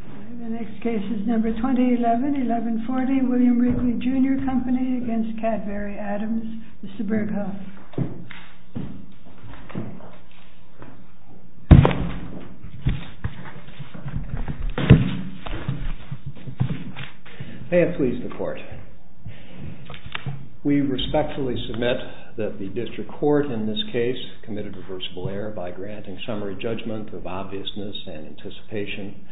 ADAMS. MR. BURGHUFF. May it please the court. We respectfully submit that the district court in this case committed a reversible error by granting summary judgment of obviousness and anticipated consequences.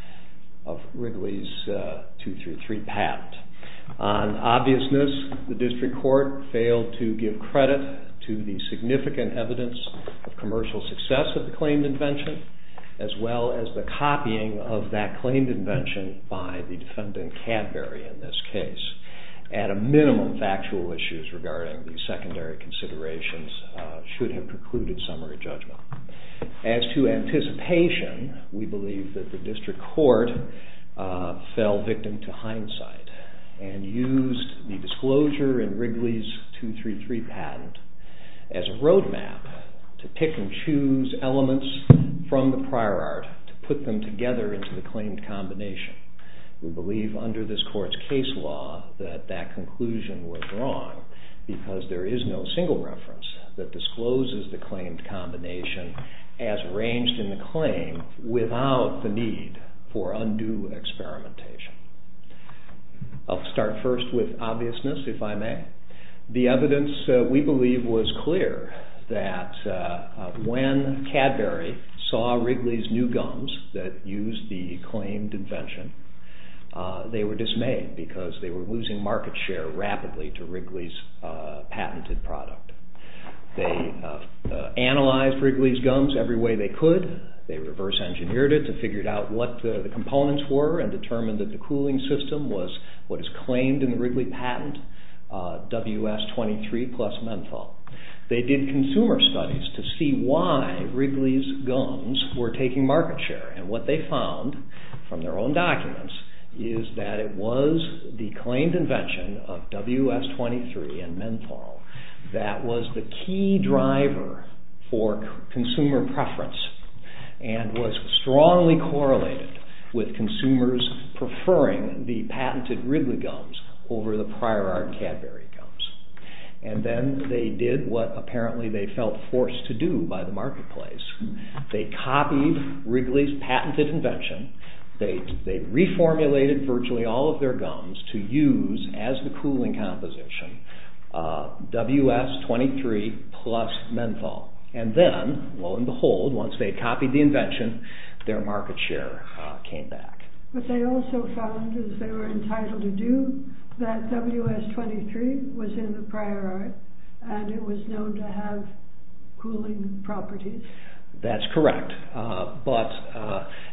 On obviousness, the district court failed to give credit to the significant evidence of commercial success of the claimed invention, as well as the copying of that claimed invention by the defendant Cadbury in this case. And a minimum factual issues regarding the secondary considerations should have precluded summary judgment. As to anticipation, we believe that the district court fell victim to hindsight and used the disclosure in Wrigley's 233 patent as a road map to pick and choose elements from the prior art to put them together into the claimed combination. We believe under this court's case law that that conclusion was wrong because there is no single reference that discloses the claimed combination as arranged in the claim without the need for undue experimentation. I'll start first with obviousness, if I may. The evidence we believe was clear that when Cadbury saw Wrigley's new gums that used the claimed invention, they were dismayed because they were losing market share rapidly to Wrigley's patented product. They analyzed Wrigley's gums every way they could. They reverse engineered it to figure out what the components were and determined that the cooling system was what is claimed in the Wrigley patent, WS23 plus menthol. They did consumer studies to see why Wrigley's gums were taking market share and what they found from their own documents is that it was the claimed invention of WS23 and menthol that was the key driver for consumer preference and was strongly correlated with consumers preferring the patented Wrigley gums over the prior art Cadbury gums. And then they did what apparently they felt forced to do by the marketplace. They copied Wrigley's patented invention. They reformulated virtually all of their gums to use as the cooling composition WS23 plus menthol. And then, lo and behold, once they copied the invention, their market share came back. But they also found, as they were entitled to do, that WS23 was in the prior art and it was known to have cooling properties. That's correct. But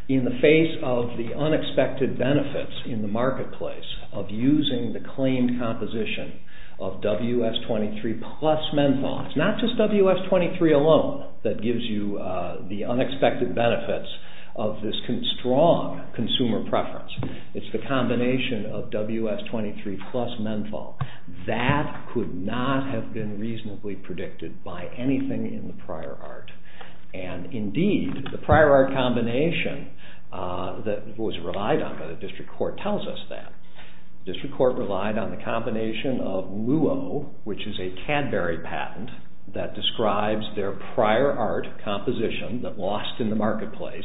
in the face of the unexpected benefits in the marketplace of using the claimed composition of WS23 plus menthol, it's not just WS23 alone that gives you the unexpected benefits of this strong consumer preference, it's the combination of WS23 plus menthol. That could not have been reasonably predicted by anything in the prior art. And indeed, the prior art combination that was relied on by the district court tells us that. The district court relied on the combination of Luo, which is a Cadbury patent that describes their prior art composition that lost in the marketplace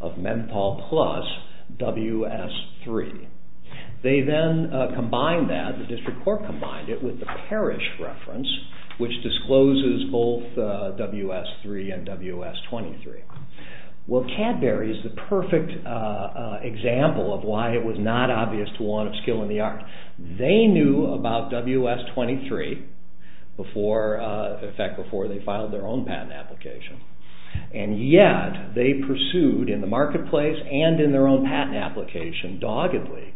of menthol plus WS3. They then combined that, the district court combined it with the Parrish reference, which discloses both WS3 and WS23. Well, Cadbury is the perfect example of why it was not obvious to want a skill in the art. They knew about WS23, in fact, before they filed their own patent application. And yet, they pursued in the marketplace and in their own patent application, doggedly,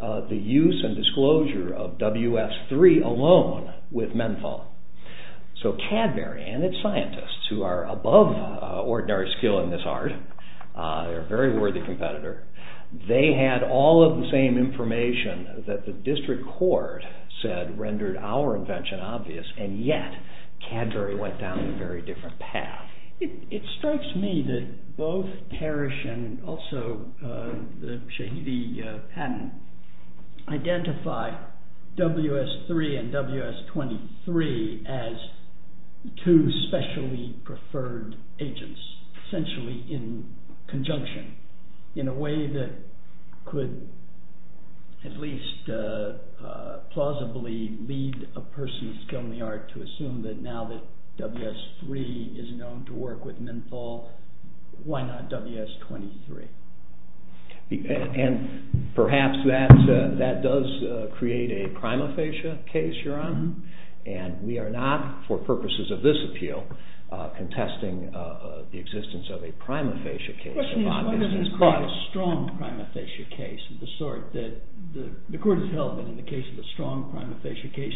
the use and disclosure of WS3 alone with menthol. So Cadbury and its scientists, who are above ordinary skill in this art, they're a very worthy competitor, they had all of the same information that the district court said rendered our invention obvious, and yet, Cadbury went down a very different path. It strikes me that both Parrish and also the Shahidi patent identify WS3 and WS23 as two specially preferred agents, essentially in conjunction, in a way that could at least plausibly lead a person's skill in the art to assume that now that WS3 is known to work with menthol, why not WS23? And perhaps that does create a prima facie case, Your Honor, and we are not, for purposes of this appeal, contesting the existence of a prima facie case. The question is, why doesn't it create a strong prima facie case of the sort that the court has held that in the case of a strong prima facie case,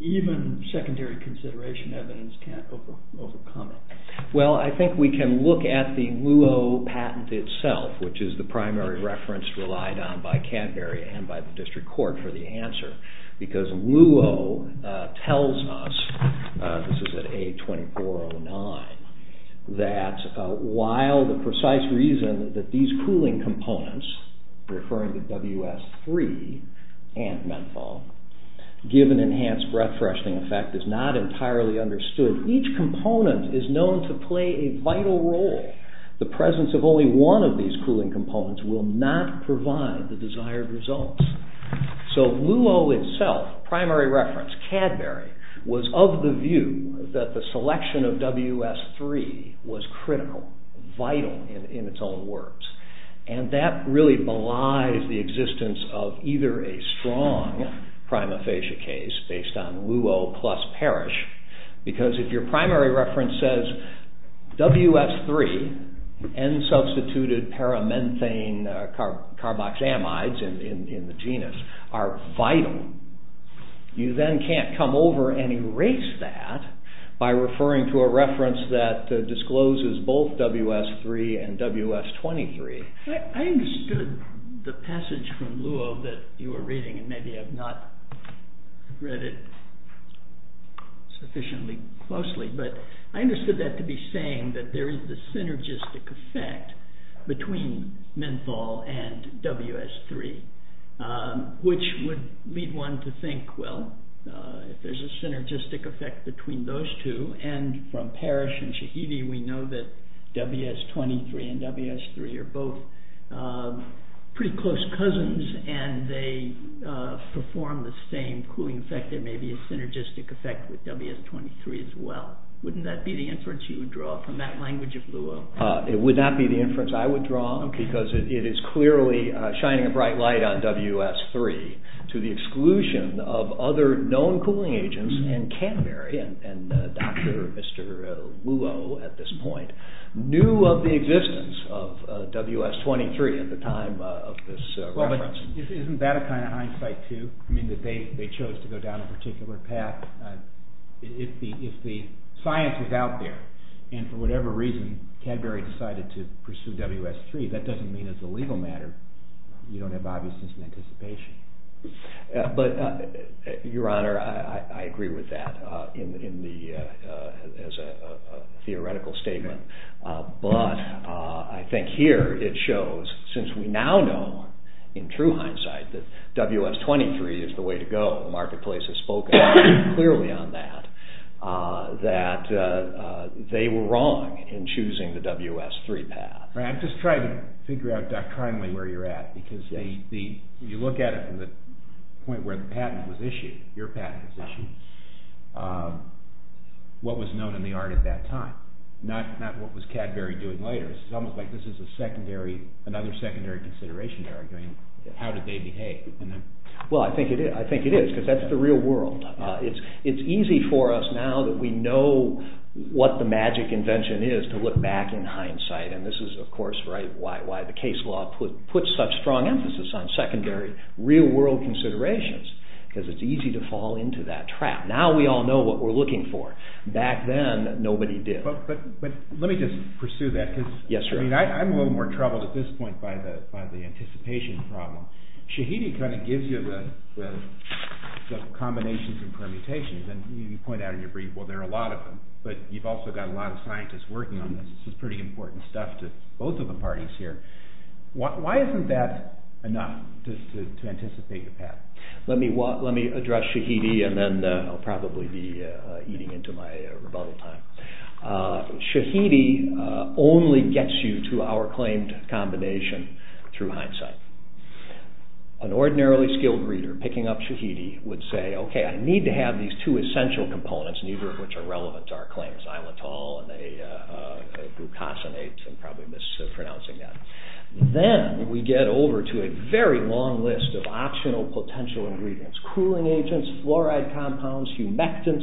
even secondary consideration evidence can't overcome it? Well, I think we can look at the Luo patent itself, which is the primary reference relied on by Cadbury and by the district court for the answer, because Luo tells us, this is at A2409, that while the precise reason that these cooling components, referring to WS3 and menthol, give an enhanced breath-freshening effect is not entirely understood. Each component is known to play a vital role. The presence of only one of these cooling components will not provide the desired results. So Luo itself, primary reference, Cadbury, was of the view that the selection of WS3 was critical, vital in its own words, and that really belies the existence of either a strong prima facie case based on Luo plus Parrish, because if your primary reference says WS3 and substituted paramethane carboxamides in the genus are vital, you then can't come over and erase that by referring to a reference that discloses both WS3 and WS23. I understood the passage from Luo that you were reading, and maybe I've not read it sufficiently closely, but I understood that to be saying that there is a synergistic effect between menthol and WS3, which would lead one to think, well, if there's a synergistic effect between those two, and from Parrish and Shahidi, we know that WS23 and WS3 are both, pretty close cousins, and they perform the same cooling effect. There may be a synergistic effect with WS23 as well. Wouldn't that be the inference you would draw from that language of Luo? Well, isn't that a kind of hindsight, too? I mean, that they chose to go down a particular path. If the science is out there, and for whatever reason Cadbury decided to pursue WS3, that doesn't mean as a legal matter you don't have obviousness and anticipation. Your Honor, I agree with that as a theoretical statement, but I think here it shows, since we now know in true hindsight that WS23 is the way to go, the marketplace has spoken clearly on that, that they were wrong in choosing the WS3 path. I'm just trying to figure out doctrinally where you're at, because you look at it from the point where the patent was issued, your patent was issued, what was known in the art at that time, not what was Cadbury doing later. It's almost like this is a secondary, another secondary consideration you're arguing. How did they behave? Well, I think it is, because that's the real world. It's easy for us now that we know what the magic invention is to look back in hindsight, and this is of course why the case law puts such strong emphasis on secondary, real world considerations, because it's easy to fall into that trap. Now we all know what we're looking for. Back then, nobody did. But let me just pursue that, because I'm a little more troubled at this point by the anticipation problem. Shahidi kind of gives you the combinations and permutations, and you point out in your brief, well, there are a lot of them, but you've also got a lot of scientists working on this. This is pretty important stuff to both of the parties here. Why isn't that enough to anticipate a path? Let me address Shahidi, and then I'll probably be eating into my rebuttal time. Shahidi only gets you to our claimed combination through hindsight. An ordinarily skilled reader picking up Shahidi would say, okay, I need to have these two essential components, neither of which are relevant to our claims, isletol and glucosinate, I'm probably mispronouncing that. Then we get over to a very long list of optional potential ingredients. Cooling agents, fluoride compounds, humectants,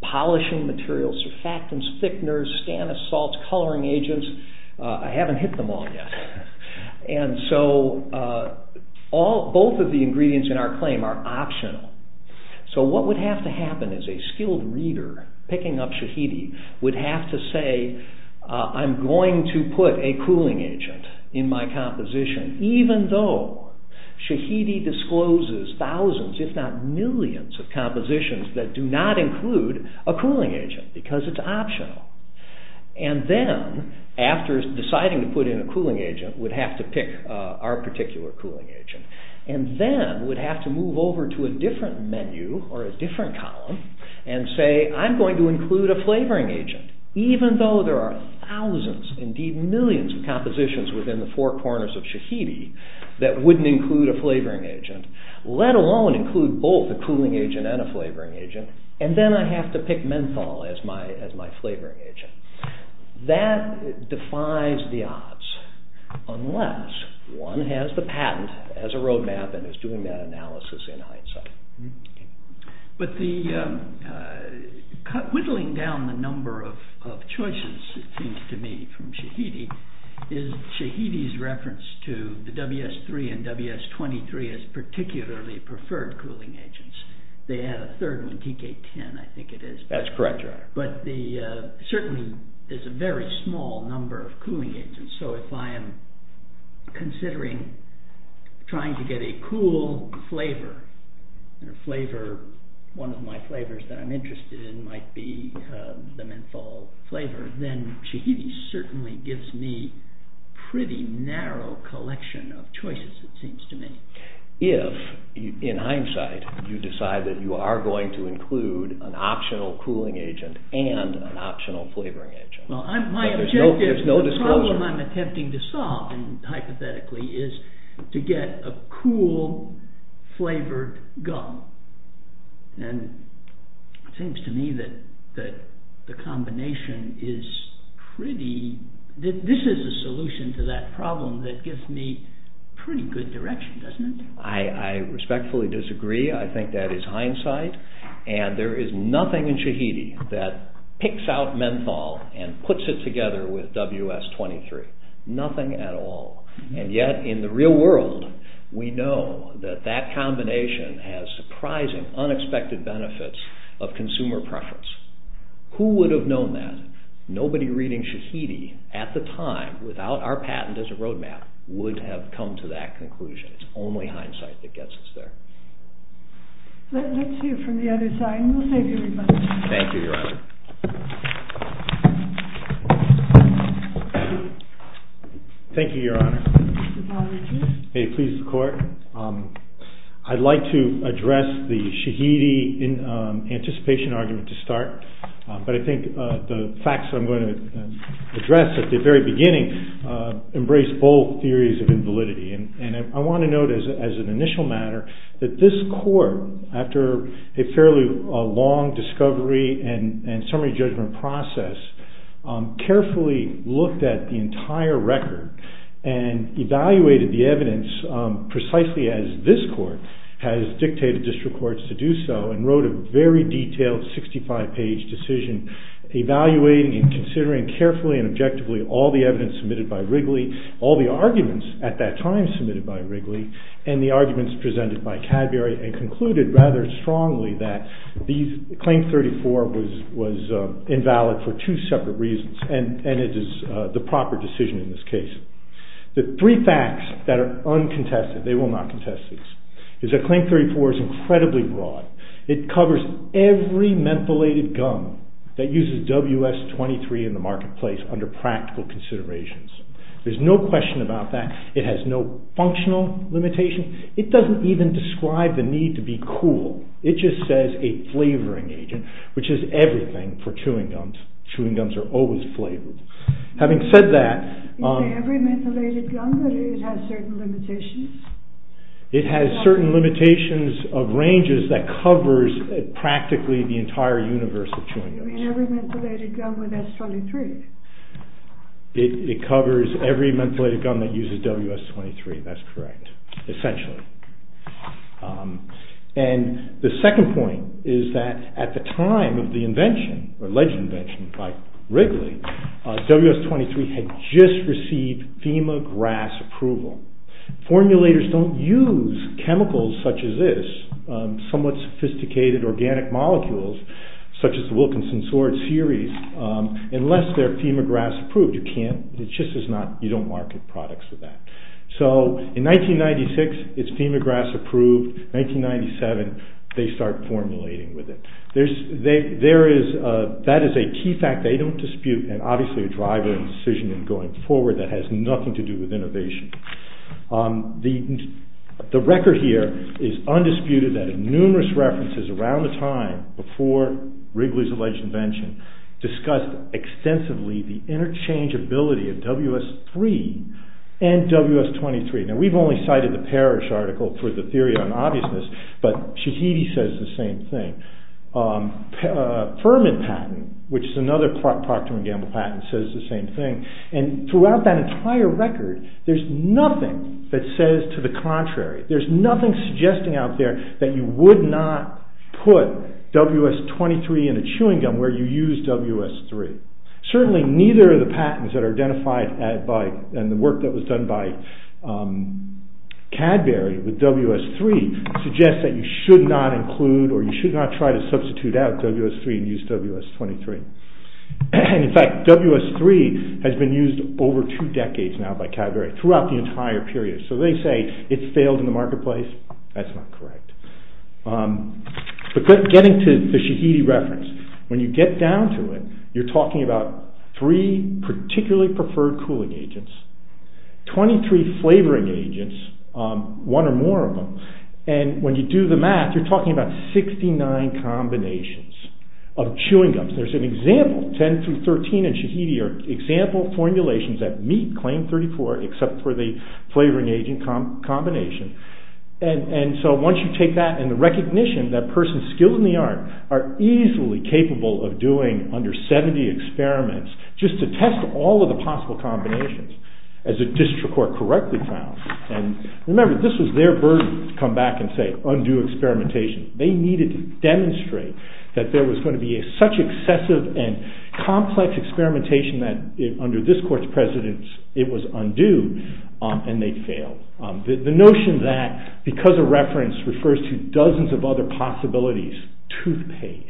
polishing materials, surfactants, thickeners, stannous salts, coloring agents. I haven't hit them all yet. Both of the ingredients in our claim are optional. What would have to happen is a skilled reader picking up Shahidi would have to say, I'm going to put a cooling agent in my composition, even though Shahidi discloses thousands, if not millions of compositions that do not include a cooling agent, because it's optional. And then, after deciding to put in a cooling agent, would have to pick our particular cooling agent, and then would have to move over to a different menu or a different column and say, I'm going to include a flavoring agent, even though there are thousands, indeed millions of compositions within the four corners of Shahidi that wouldn't include a flavoring agent, let alone include both a cooling agent and a flavoring agent, and then I have to pick menthol as my flavoring agent. That defies the odds, unless one has the patent, has a roadmap, and is doing that analysis in hindsight. But whittling down the number of choices, it seems to me, from Shahidi is Shahidi's reference to the WS-3 and WS-23 as particularly preferred cooling agents. They had a third one, TK-10, I think it is. That's correct, Your Honor. But certainly, there's a very small number of cooling agents, so if I am considering trying to get a cool flavor, one of my flavors that I'm interested in might be the menthol flavor, then Shahidi certainly gives me a pretty narrow collection of choices, it seems to me. If, in hindsight, you decide that you are going to include an optional cooling agent and an optional flavoring agent, there's no disclosure. The problem I'm attempting to solve, hypothetically, is to get a cool-flavored gum, and it seems to me that the combination is pretty... this is a solution to that problem that gives me pretty good direction, doesn't it? I respectfully disagree. I think that is hindsight, and there is nothing in Shahidi that picks out menthol and puts it together with WS-23. Nothing at all. And yet, in the real world, we know that that combination has surprising, unexpected benefits of consumer preference. Who would have known that? Nobody reading Shahidi at the time, without our patent as a roadmap, would have come to that conclusion. It's only hindsight that gets us there. Let's hear from the other side, and we'll save you a few minutes. Thank you, Your Honor. Thank you, Your Honor. May it please the Court. I'd like to address the Shahidi anticipation argument to start, but I think the facts I'm going to address at the very beginning embrace both theories of invalidity. I want to note, as an initial matter, that this Court, after a fairly long discovery and summary judgment process, carefully looked at the entire record and evaluated the evidence precisely as this Court has dictated district courts to do so, and wrote a very detailed 65-page decision evaluating and considering carefully and objectively all the evidence submitted by Wrigley, all the arguments at that time submitted by Wrigley, and the arguments presented by Cadbury, and concluded rather strongly that Claim 34 was invalid for two separate reasons, and it is the proper decision in this case. The three facts that are uncontested, they will not contest this, is that Claim 34 is incredibly broad. It covers every mentholated gum that uses WS-23 in the marketplace under practical considerations. There's no question about that. It has no functional limitation. It doesn't even describe the need to be cool. It just says a flavoring agent, which is everything for chewing gums. Chewing gums are always flavored. Having said that, it has certain limitations of ranges that covers practically the entire universe of chewing gums. It covers every mentholated gum that uses WS-23. That's correct, essentially. The second point is that at the time of the invention or alleged invention by Wrigley, WS-23 had just received FEMA GRAS approval. Formulators don't use chemicals such as this, somewhat sophisticated organic molecules such as the Wilkinson Sword series, unless they're FEMA GRAS approved. You don't market products with that. In 1996, it's FEMA GRAS approved. In 1997, they start formulating with it. That is a key fact they don't dispute and, obviously, a driving decision going forward that has nothing to do with innovation. The record here is undisputed that numerous references around the time before Wrigley's alleged invention discussed extensively the interchangeability of WS-3 and WS-23. Now, we've only cited the Parrish article for the theory on obviousness, but Shahidi says the same thing. Furman patent, which is another Procter & Gamble patent, says the same thing. Throughout that entire record, there's nothing that says to the contrary. There's nothing suggesting out there that you would not put WS-23 in a chewing gum where you use WS-3. Certainly, neither of the patents that are identified and the work that was done by Cadbury with WS-3 suggests that you should not include or you should not try to substitute out WS-3 and use WS-23. In fact, WS-3 has been used over two decades now by Cadbury throughout the entire period. So, they say it's failed in the marketplace. That's not correct. Getting to the Shahidi reference, when you get down to it, you're talking about three particularly preferred cooling agents, 23 flavoring agents, one or more of them. When you do the math, you're talking about 69 combinations of chewing gums. There's an example, 10 through 13 in Shahidi are example formulations that meet claim 34 except for the flavoring agent combination. Once you take that and the recognition that persons skilled in the art are easily capable of doing under 70 experiments just to test all of the possible combinations, as the district court correctly found. Remember, this was their burden to come back and say, undo experimentation. They needed to demonstrate that there was going to be such excessive and complex experimentation that under this court's precedence, it was undue and they failed. The notion that because a reference refers to dozens of other possibilities, toothpaste,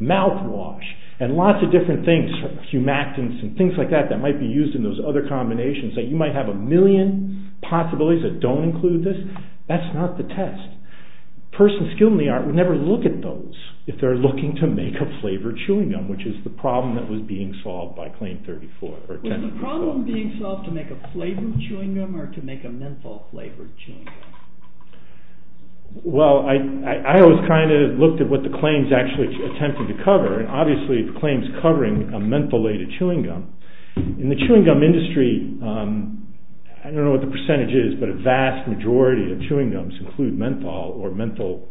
mouthwash, and lots of different things, humectants and things like that that might be used in those other combinations, that you might have a million possibilities that don't include this, that's not the test. Persons skilled in the art would never look at those if they're looking to make a flavored chewing gum, which is the problem that was being solved by claim 34. Was the problem being solved to make a flavored chewing gum or to make a menthol flavored chewing gum? Well, I always kind of looked at what the claims actually attempted to cover and obviously the claims covering a mentholated chewing gum. In the chewing gum industry, I don't know what the percentage is, but a vast majority of chewing gums include menthol or menthol,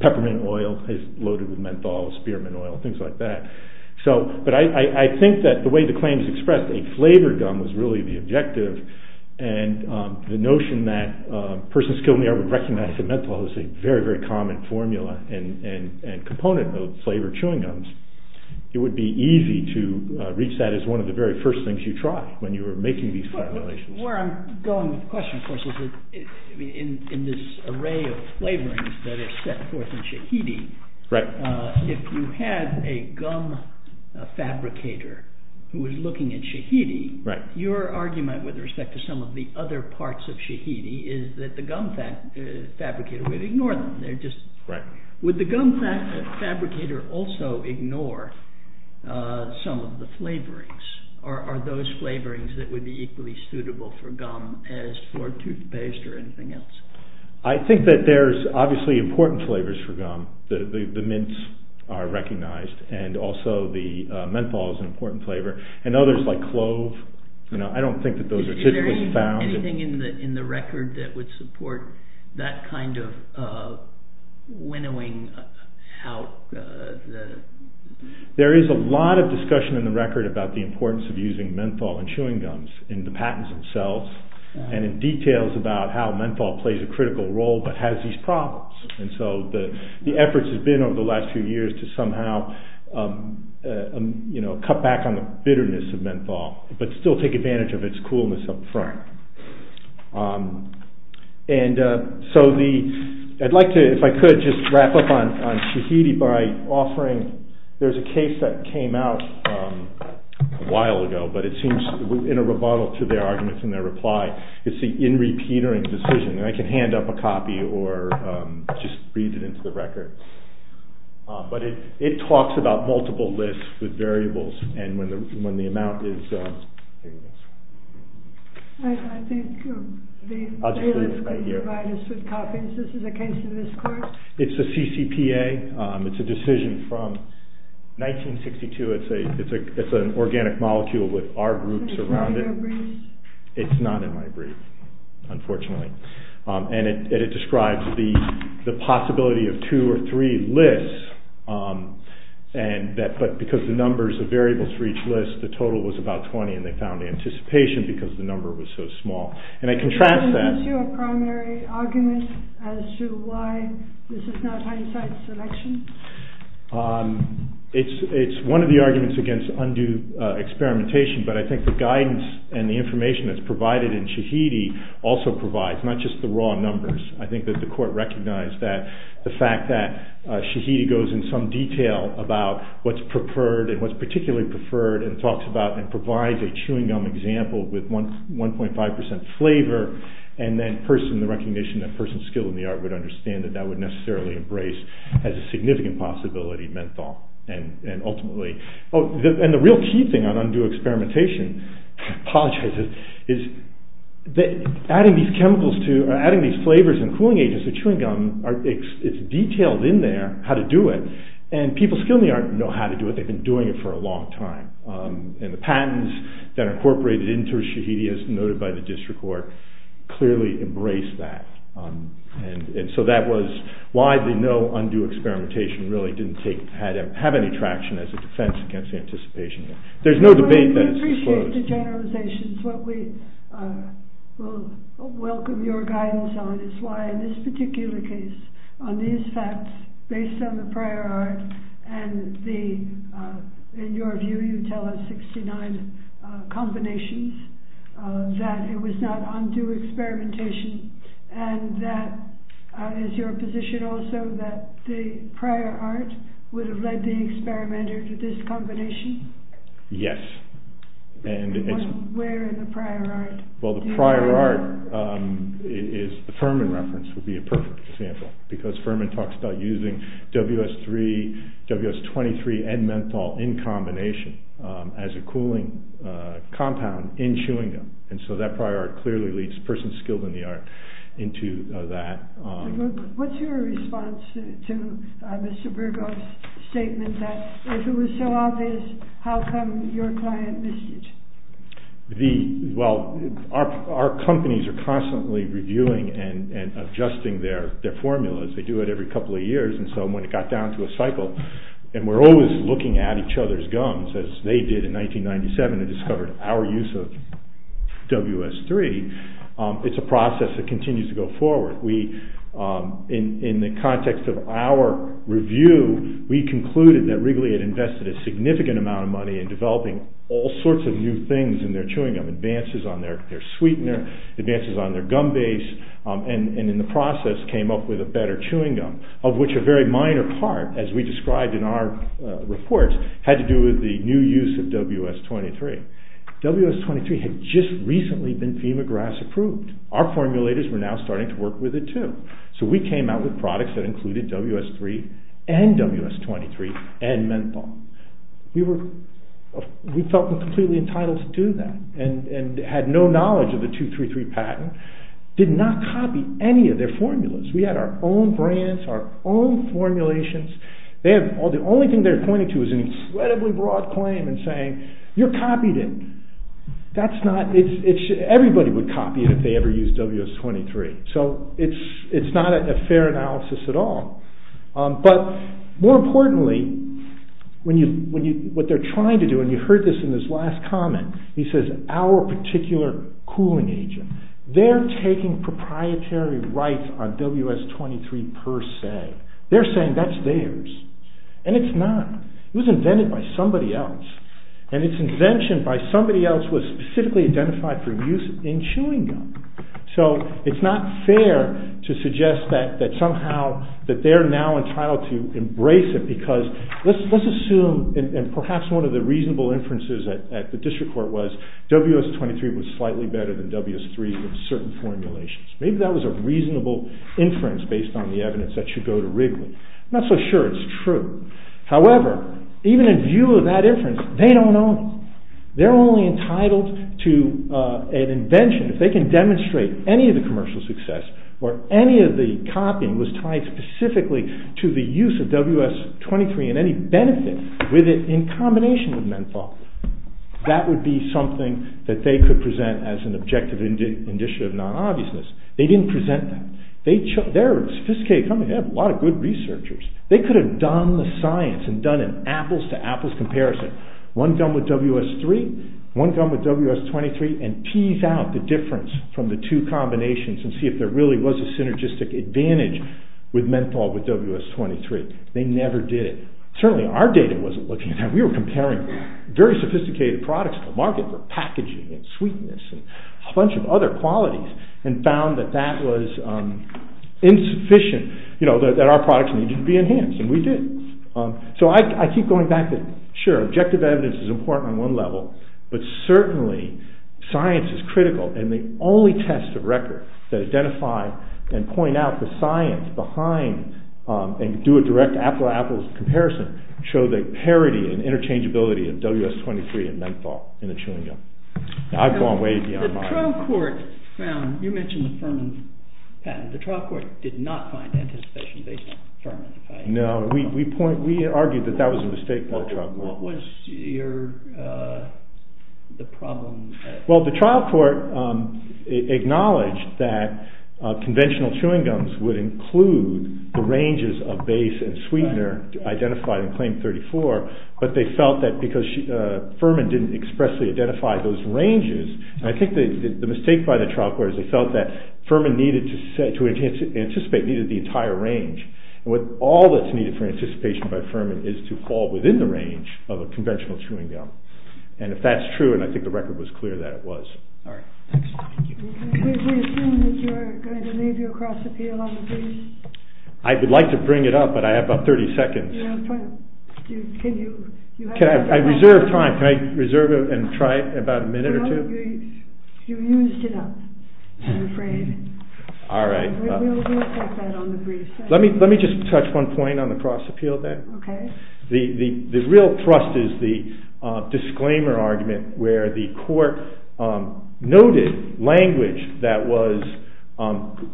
peppermint oil is loaded with menthol, spearmint oil, things like that. But I think that the way the claims expressed a flavored gum was really the objective and the notion that persons skilled in the art would recognize that menthol is a very, very common formula and component of flavored chewing gums. It would be easy to reach that as one of the very first things you try when you are making these formulations. Where I'm going with the question, of course, is that in this array of flavorings that is set forth in Shahidi, if you had a gum fabricator who is looking at Shahidi, your argument with respect to some of the other parts of Shahidi is that the gum fabricator would ignore them. Would the gum fabricator also ignore some of the flavorings or are those flavorings that would be equally suitable for gum as for toothpaste or anything else? I think that there's obviously important flavors for gum. The mints are recognized and also the menthol is an important flavor and others like clove. Is there anything in the record that would support that kind of winnowing? There is a lot of discussion in the record about the importance of using menthol and chewing gums in the patents themselves and in details about how menthol plays a critical role but has these problems. The efforts have been over the last few years to somehow cut back on the bitterness of menthol but still take advantage of its coolness up front. I'd like to, if I could, just wrap up on Shahidi by offering, there's a case that came out a while ago but it seems in a rebuttal to their arguments and their reply. It's the in-repeatering decision and I can hand up a copy or just read it into the record but it talks about multiple lists with variables and when the amount is... I'll just read this right here. This is a case in this court? It's a CCPA. It's a decision from 1962. It's an organic molecule with R groups around it. It's not in my brief, unfortunately. It describes the possibility of two or three lists but because the numbers of variables for each list, the total was about 20 and they found anticipation because the number was so small. I contrast that... Is this your primary argument as to why this is not hindsight selection? It's one of the arguments against undue experimentation but I think the guidance and the information that's provided in Shahidi also provides, not just the raw numbers. I think that the court recognized that the fact that Shahidi goes in some detail about what's preferred and what's particularly preferred and talks about and provides a chewing gum example with 1.5% flavor and then person, the recognition that person skilled in the art would understand that that would necessarily embrace as a significant possibility menthol and ultimately... And the real key thing on undue experimentation, I apologize, is adding these flavors and cooling agents to chewing gum, it's detailed in there how to do it and people skilled in the art know how to do it. They've been doing it for a long time. And the patents that are incorporated into Shahidi as noted by the district court clearly embrace that. And so that was why the no undue experimentation really didn't have any traction as a defense against the anticipation. There's no debate that it's disclosed. So to generalizations, what we will welcome your guidance on is why in this particular case on these facts based on the prior art and in your view you tell us 69 combinations that it was not undue experimentation and that is your position also that the prior art would have led the experimenter to this combination? Yes. Where in the prior art? Well the prior art is the Furman reference would be a perfect example because Furman talks about using WS3, WS23 and menthol in combination as a cooling compound in chewing gum and so that prior art clearly leads person skilled in the art into that. What's your response to Mr. Burgo's statement that if it was so obvious how come your client missed it? Well our companies are constantly reviewing and adjusting their formulas. They do it every couple of years and so when it got down to a cycle and we're always looking at each other's gums as they did in 1997 and discovered our use of WS3, it's a process that continues to go forward. In the context of our review, we concluded that Wrigley had invested a significant amount of money in developing all sorts of new things in their chewing gum, advances on their sweetener, advances on their gum base and in the process came up with a better chewing gum of which a very minor part as we described in our reports had to do with the new use of WS23. WS23 had just recently been Femagrass approved. Our formulators were now starting to work with it too. So we came out with products that included WS3 and WS23 and menthol. We felt completely entitled to do that and had no knowledge of the 233 patent, did not copy any of their formulas. We had our own brands, our own formulations. The only thing they're pointing to is an incredibly broad claim and saying, you copied it. Everybody would copy it if they ever used WS23. So it's not a fair analysis at all. But more importantly, what they're trying to do, and you heard this in his last comment, he says, our particular cooling agent, they're taking proprietary rights on WS23 per se. They're saying that's theirs. And it's not. It was invented by somebody else. And its invention by somebody else was specifically identified for use in chewing gum. So it's not fair to suggest that somehow they're now entitled to embrace it. Because let's assume, and perhaps one of the reasonable inferences at the district court was WS23 was slightly better than WS3 in certain formulations. Maybe that was a reasonable inference based on the evidence that should go to Wrigley. I'm not so sure it's true. However, even in view of that inference, they don't own it. They're only entitled to an invention if they can demonstrate any of the commercial success or any of the copying was tied specifically to the use of WS23 and any benefit with it in combination with menthol. That would be something that they could present as an objective initiative of non-obviousness. They didn't present that. They're a sophisticated company. They have a lot of good researchers. They could have done the science and done an apples to apples comparison. One gum with WS3, one gum with WS23 and tease out the difference from the two combinations and see if there really was a synergistic advantage with menthol with WS23. They never did it. Certainly our data wasn't looking at that. We were comparing very sophisticated products to market for packaging and sweetness and a bunch of other qualities and found that that was insufficient, that our products needed to be enhanced. And we did. So I keep going back to, sure, objective evidence is important on one level, but certainly science is critical and the only test of record that identify and point out the science behind and do a direct apples to apples comparison show the parity and interchangeability of WS23 and menthol in a chewing gum. I've gone way beyond that. The trial court found, you mentioned the Furman patent, the trial court did not find anticipation based on Furman. No, we argued that that was a mistake by the trial court. What was the problem? Well, the trial court acknowledged that conventional chewing gums would include the ranges of base and sweetener identified in claim 34, but they felt that because Furman didn't expressly identify those ranges, I think the mistake by the trial court is they felt that Furman needed to anticipate the entire range. And with all that's needed for anticipation by Furman is to fall within the range of a conventional chewing gum. And if that's true, and I think the record was clear that it was. All right. Thanks. Thank you. We assume that you're going to leave your cross appeal on the brief. I would like to bring it up, but I have about 30 seconds. Can you? I reserve time. Can I reserve and try about a minute or two? You used it up, I'm afraid. All right. We'll check that on the brief. Let me just touch one point on the cross appeal then. Okay. The real thrust is the disclaimer argument where the court noted language that was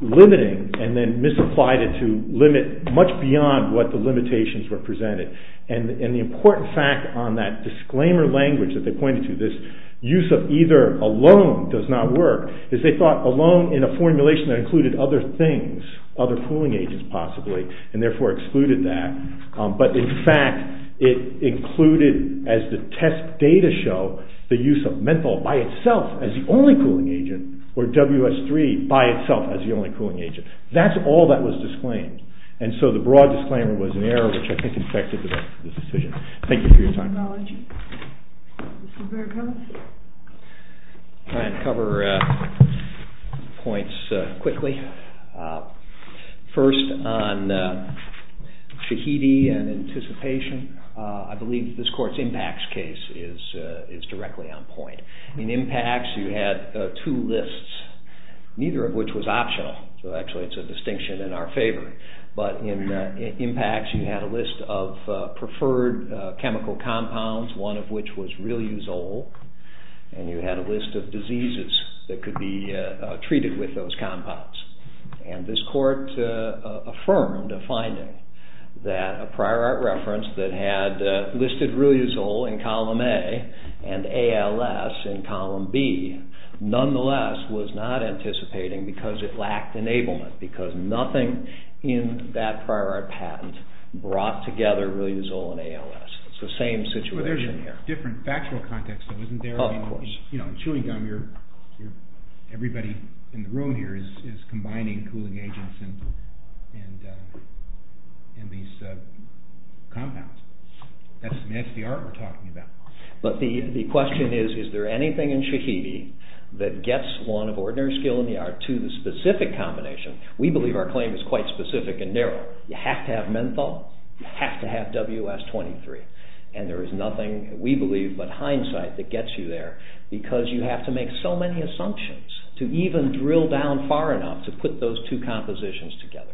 limiting and then misapplied it to limit much beyond what the limitations were presented. And the important fact on that disclaimer language that they pointed to, this use of either alone does not work, is they thought alone in a formulation that included other things, other cooling agents possibly, and therefore excluded that. But in fact, it included as the test data show, the use of menthol by itself as the only cooling agent or WS3 by itself as the only cooling agent. That's all that was disclaimed. And so the broad disclaimer was an error which I think affected the decision. Thank you for your time. Mr. Berghoff? I'll try and cover points quickly. First on Shahidi and anticipation, I believe this court's impacts case is directly on point. In impacts, you had two lists, neither of which was optional. So actually, it's a distinction in our favor. But in impacts, you had a list of preferred chemical compounds, one of which was riluzole, and you had a list of diseases that could be treated with those compounds. And this court affirmed a finding that a prior art reference that had listed riluzole in column A and ALS in column B, nonetheless, was not anticipating because it lacked enablement, because nothing in that prior art patent brought together riluzole and ALS. It's the same situation here. Well, there's a different factual context though, isn't there? Of course. Chewing gum, everybody in the room here is combining cooling agents and these compounds. That's the art we're talking about. But the question is, is there anything in Shahidi that gets one of ordinary skill in the art to the specific combination? We believe our claim is quite specific and narrow. You have to have menthol. You have to have WS-23. And there is nothing, we believe, but hindsight that gets you there because you have to make so many assumptions to even drill down far enough to put those two compositions together.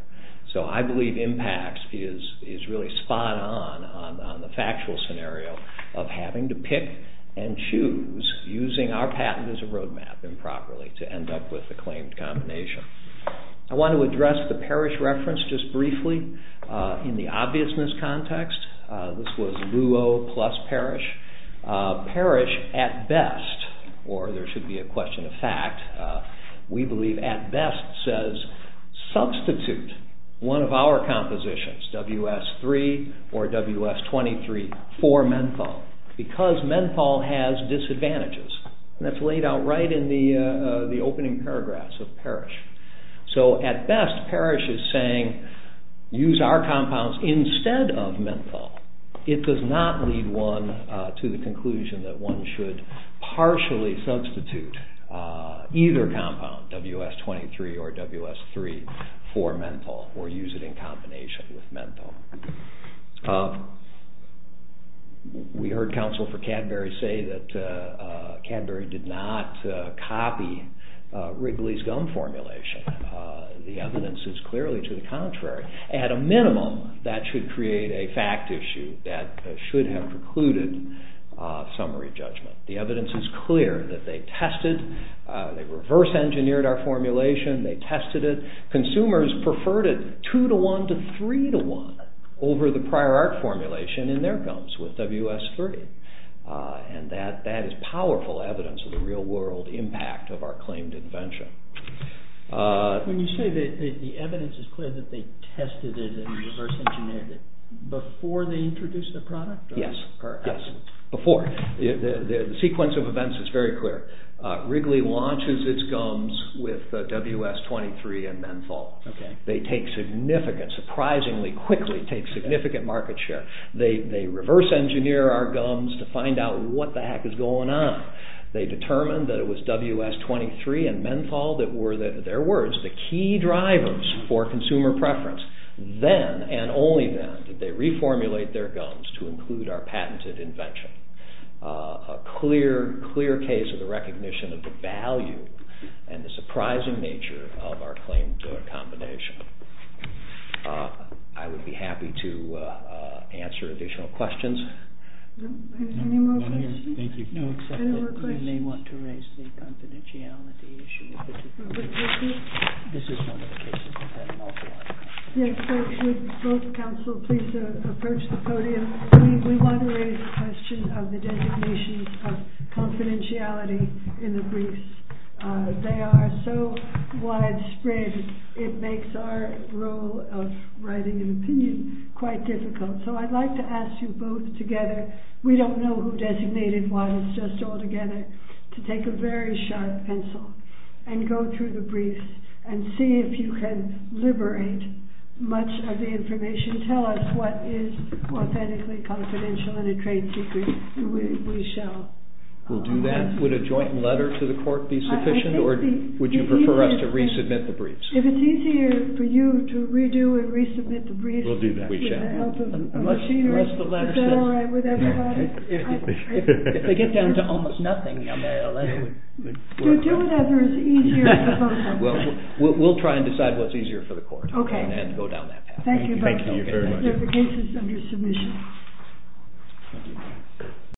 So I believe impacts is really spot on on the factual scenario of having to pick and choose using our patent as a roadmap improperly to end up with the claimed combination. I want to address the parish reference just briefly in the obviousness context. This was Luo plus parish. Parish, at best, or there should be a question of fact, we believe at best says substitute one of our compositions, WS-3 or WS-23, for menthol because menthol has disadvantages. And that's laid out right in the opening paragraphs of parish. So at best, parish is saying use our compounds instead of menthol. It does not lead one to the conclusion that one should partially substitute either compound, WS-23 or WS-3, for menthol or use it in combination with menthol. We heard counsel for Cadbury say that Cadbury did not copy Wrigley's gum formulation. The evidence is clearly to the contrary. At a minimum, that should create a fact issue that should have precluded summary judgment. The evidence is clear that they tested, they reverse engineered our formulation, they tested it. Consumers preferred it 2 to 1 to 3 to 1 over the prior art formulation in their gums with WS-3. And that is powerful evidence of the real world impact of our claimed invention. When you say the evidence is clear that they tested it and reverse engineered it, before they introduced the product? Yes, before. The sequence of events is very clear. Wrigley launches its gums with WS-23 and menthol. They take significant, surprisingly quickly, take significant market share. They reverse engineer our gums to find out what the heck is going on. They determined that it was WS-23 and menthol that were, their words, the key drivers for consumer preference. Then, and only then, did they reformulate their gums to include our patented invention. A clear, clear case of the recognition of the value and the surprising nature of our claimed combination. I would be happy to answer additional questions. Any more questions? No, except that you may want to raise the confidentiality issue. This is one of the cases we've had multiple times. Yes, would both counsel please approach the podium. We want to raise the question of the designations of confidentiality in the briefs. They are so widespread, it makes our role of writing an opinion quite difficult. So I'd like to ask you both together, we don't know who designated what, it's just altogether, to take a very sharp pencil and go through the briefs and see if you can liberate much of the information. Tell us what is authentically confidential and a trade secret. We shall. We'll do that. Would a joint letter to the court be sufficient or would you prefer us to resubmit the briefs? If it's easier for you to redo and resubmit the briefs. We'll do that. With the help of machinery. Is that alright with everybody? If they get down to almost nothing, a letter would work. Do whatever is easier for them. We'll try and decide what's easier for the court and go down that path. Thank you both so much. Thank you very much. The case is under submission.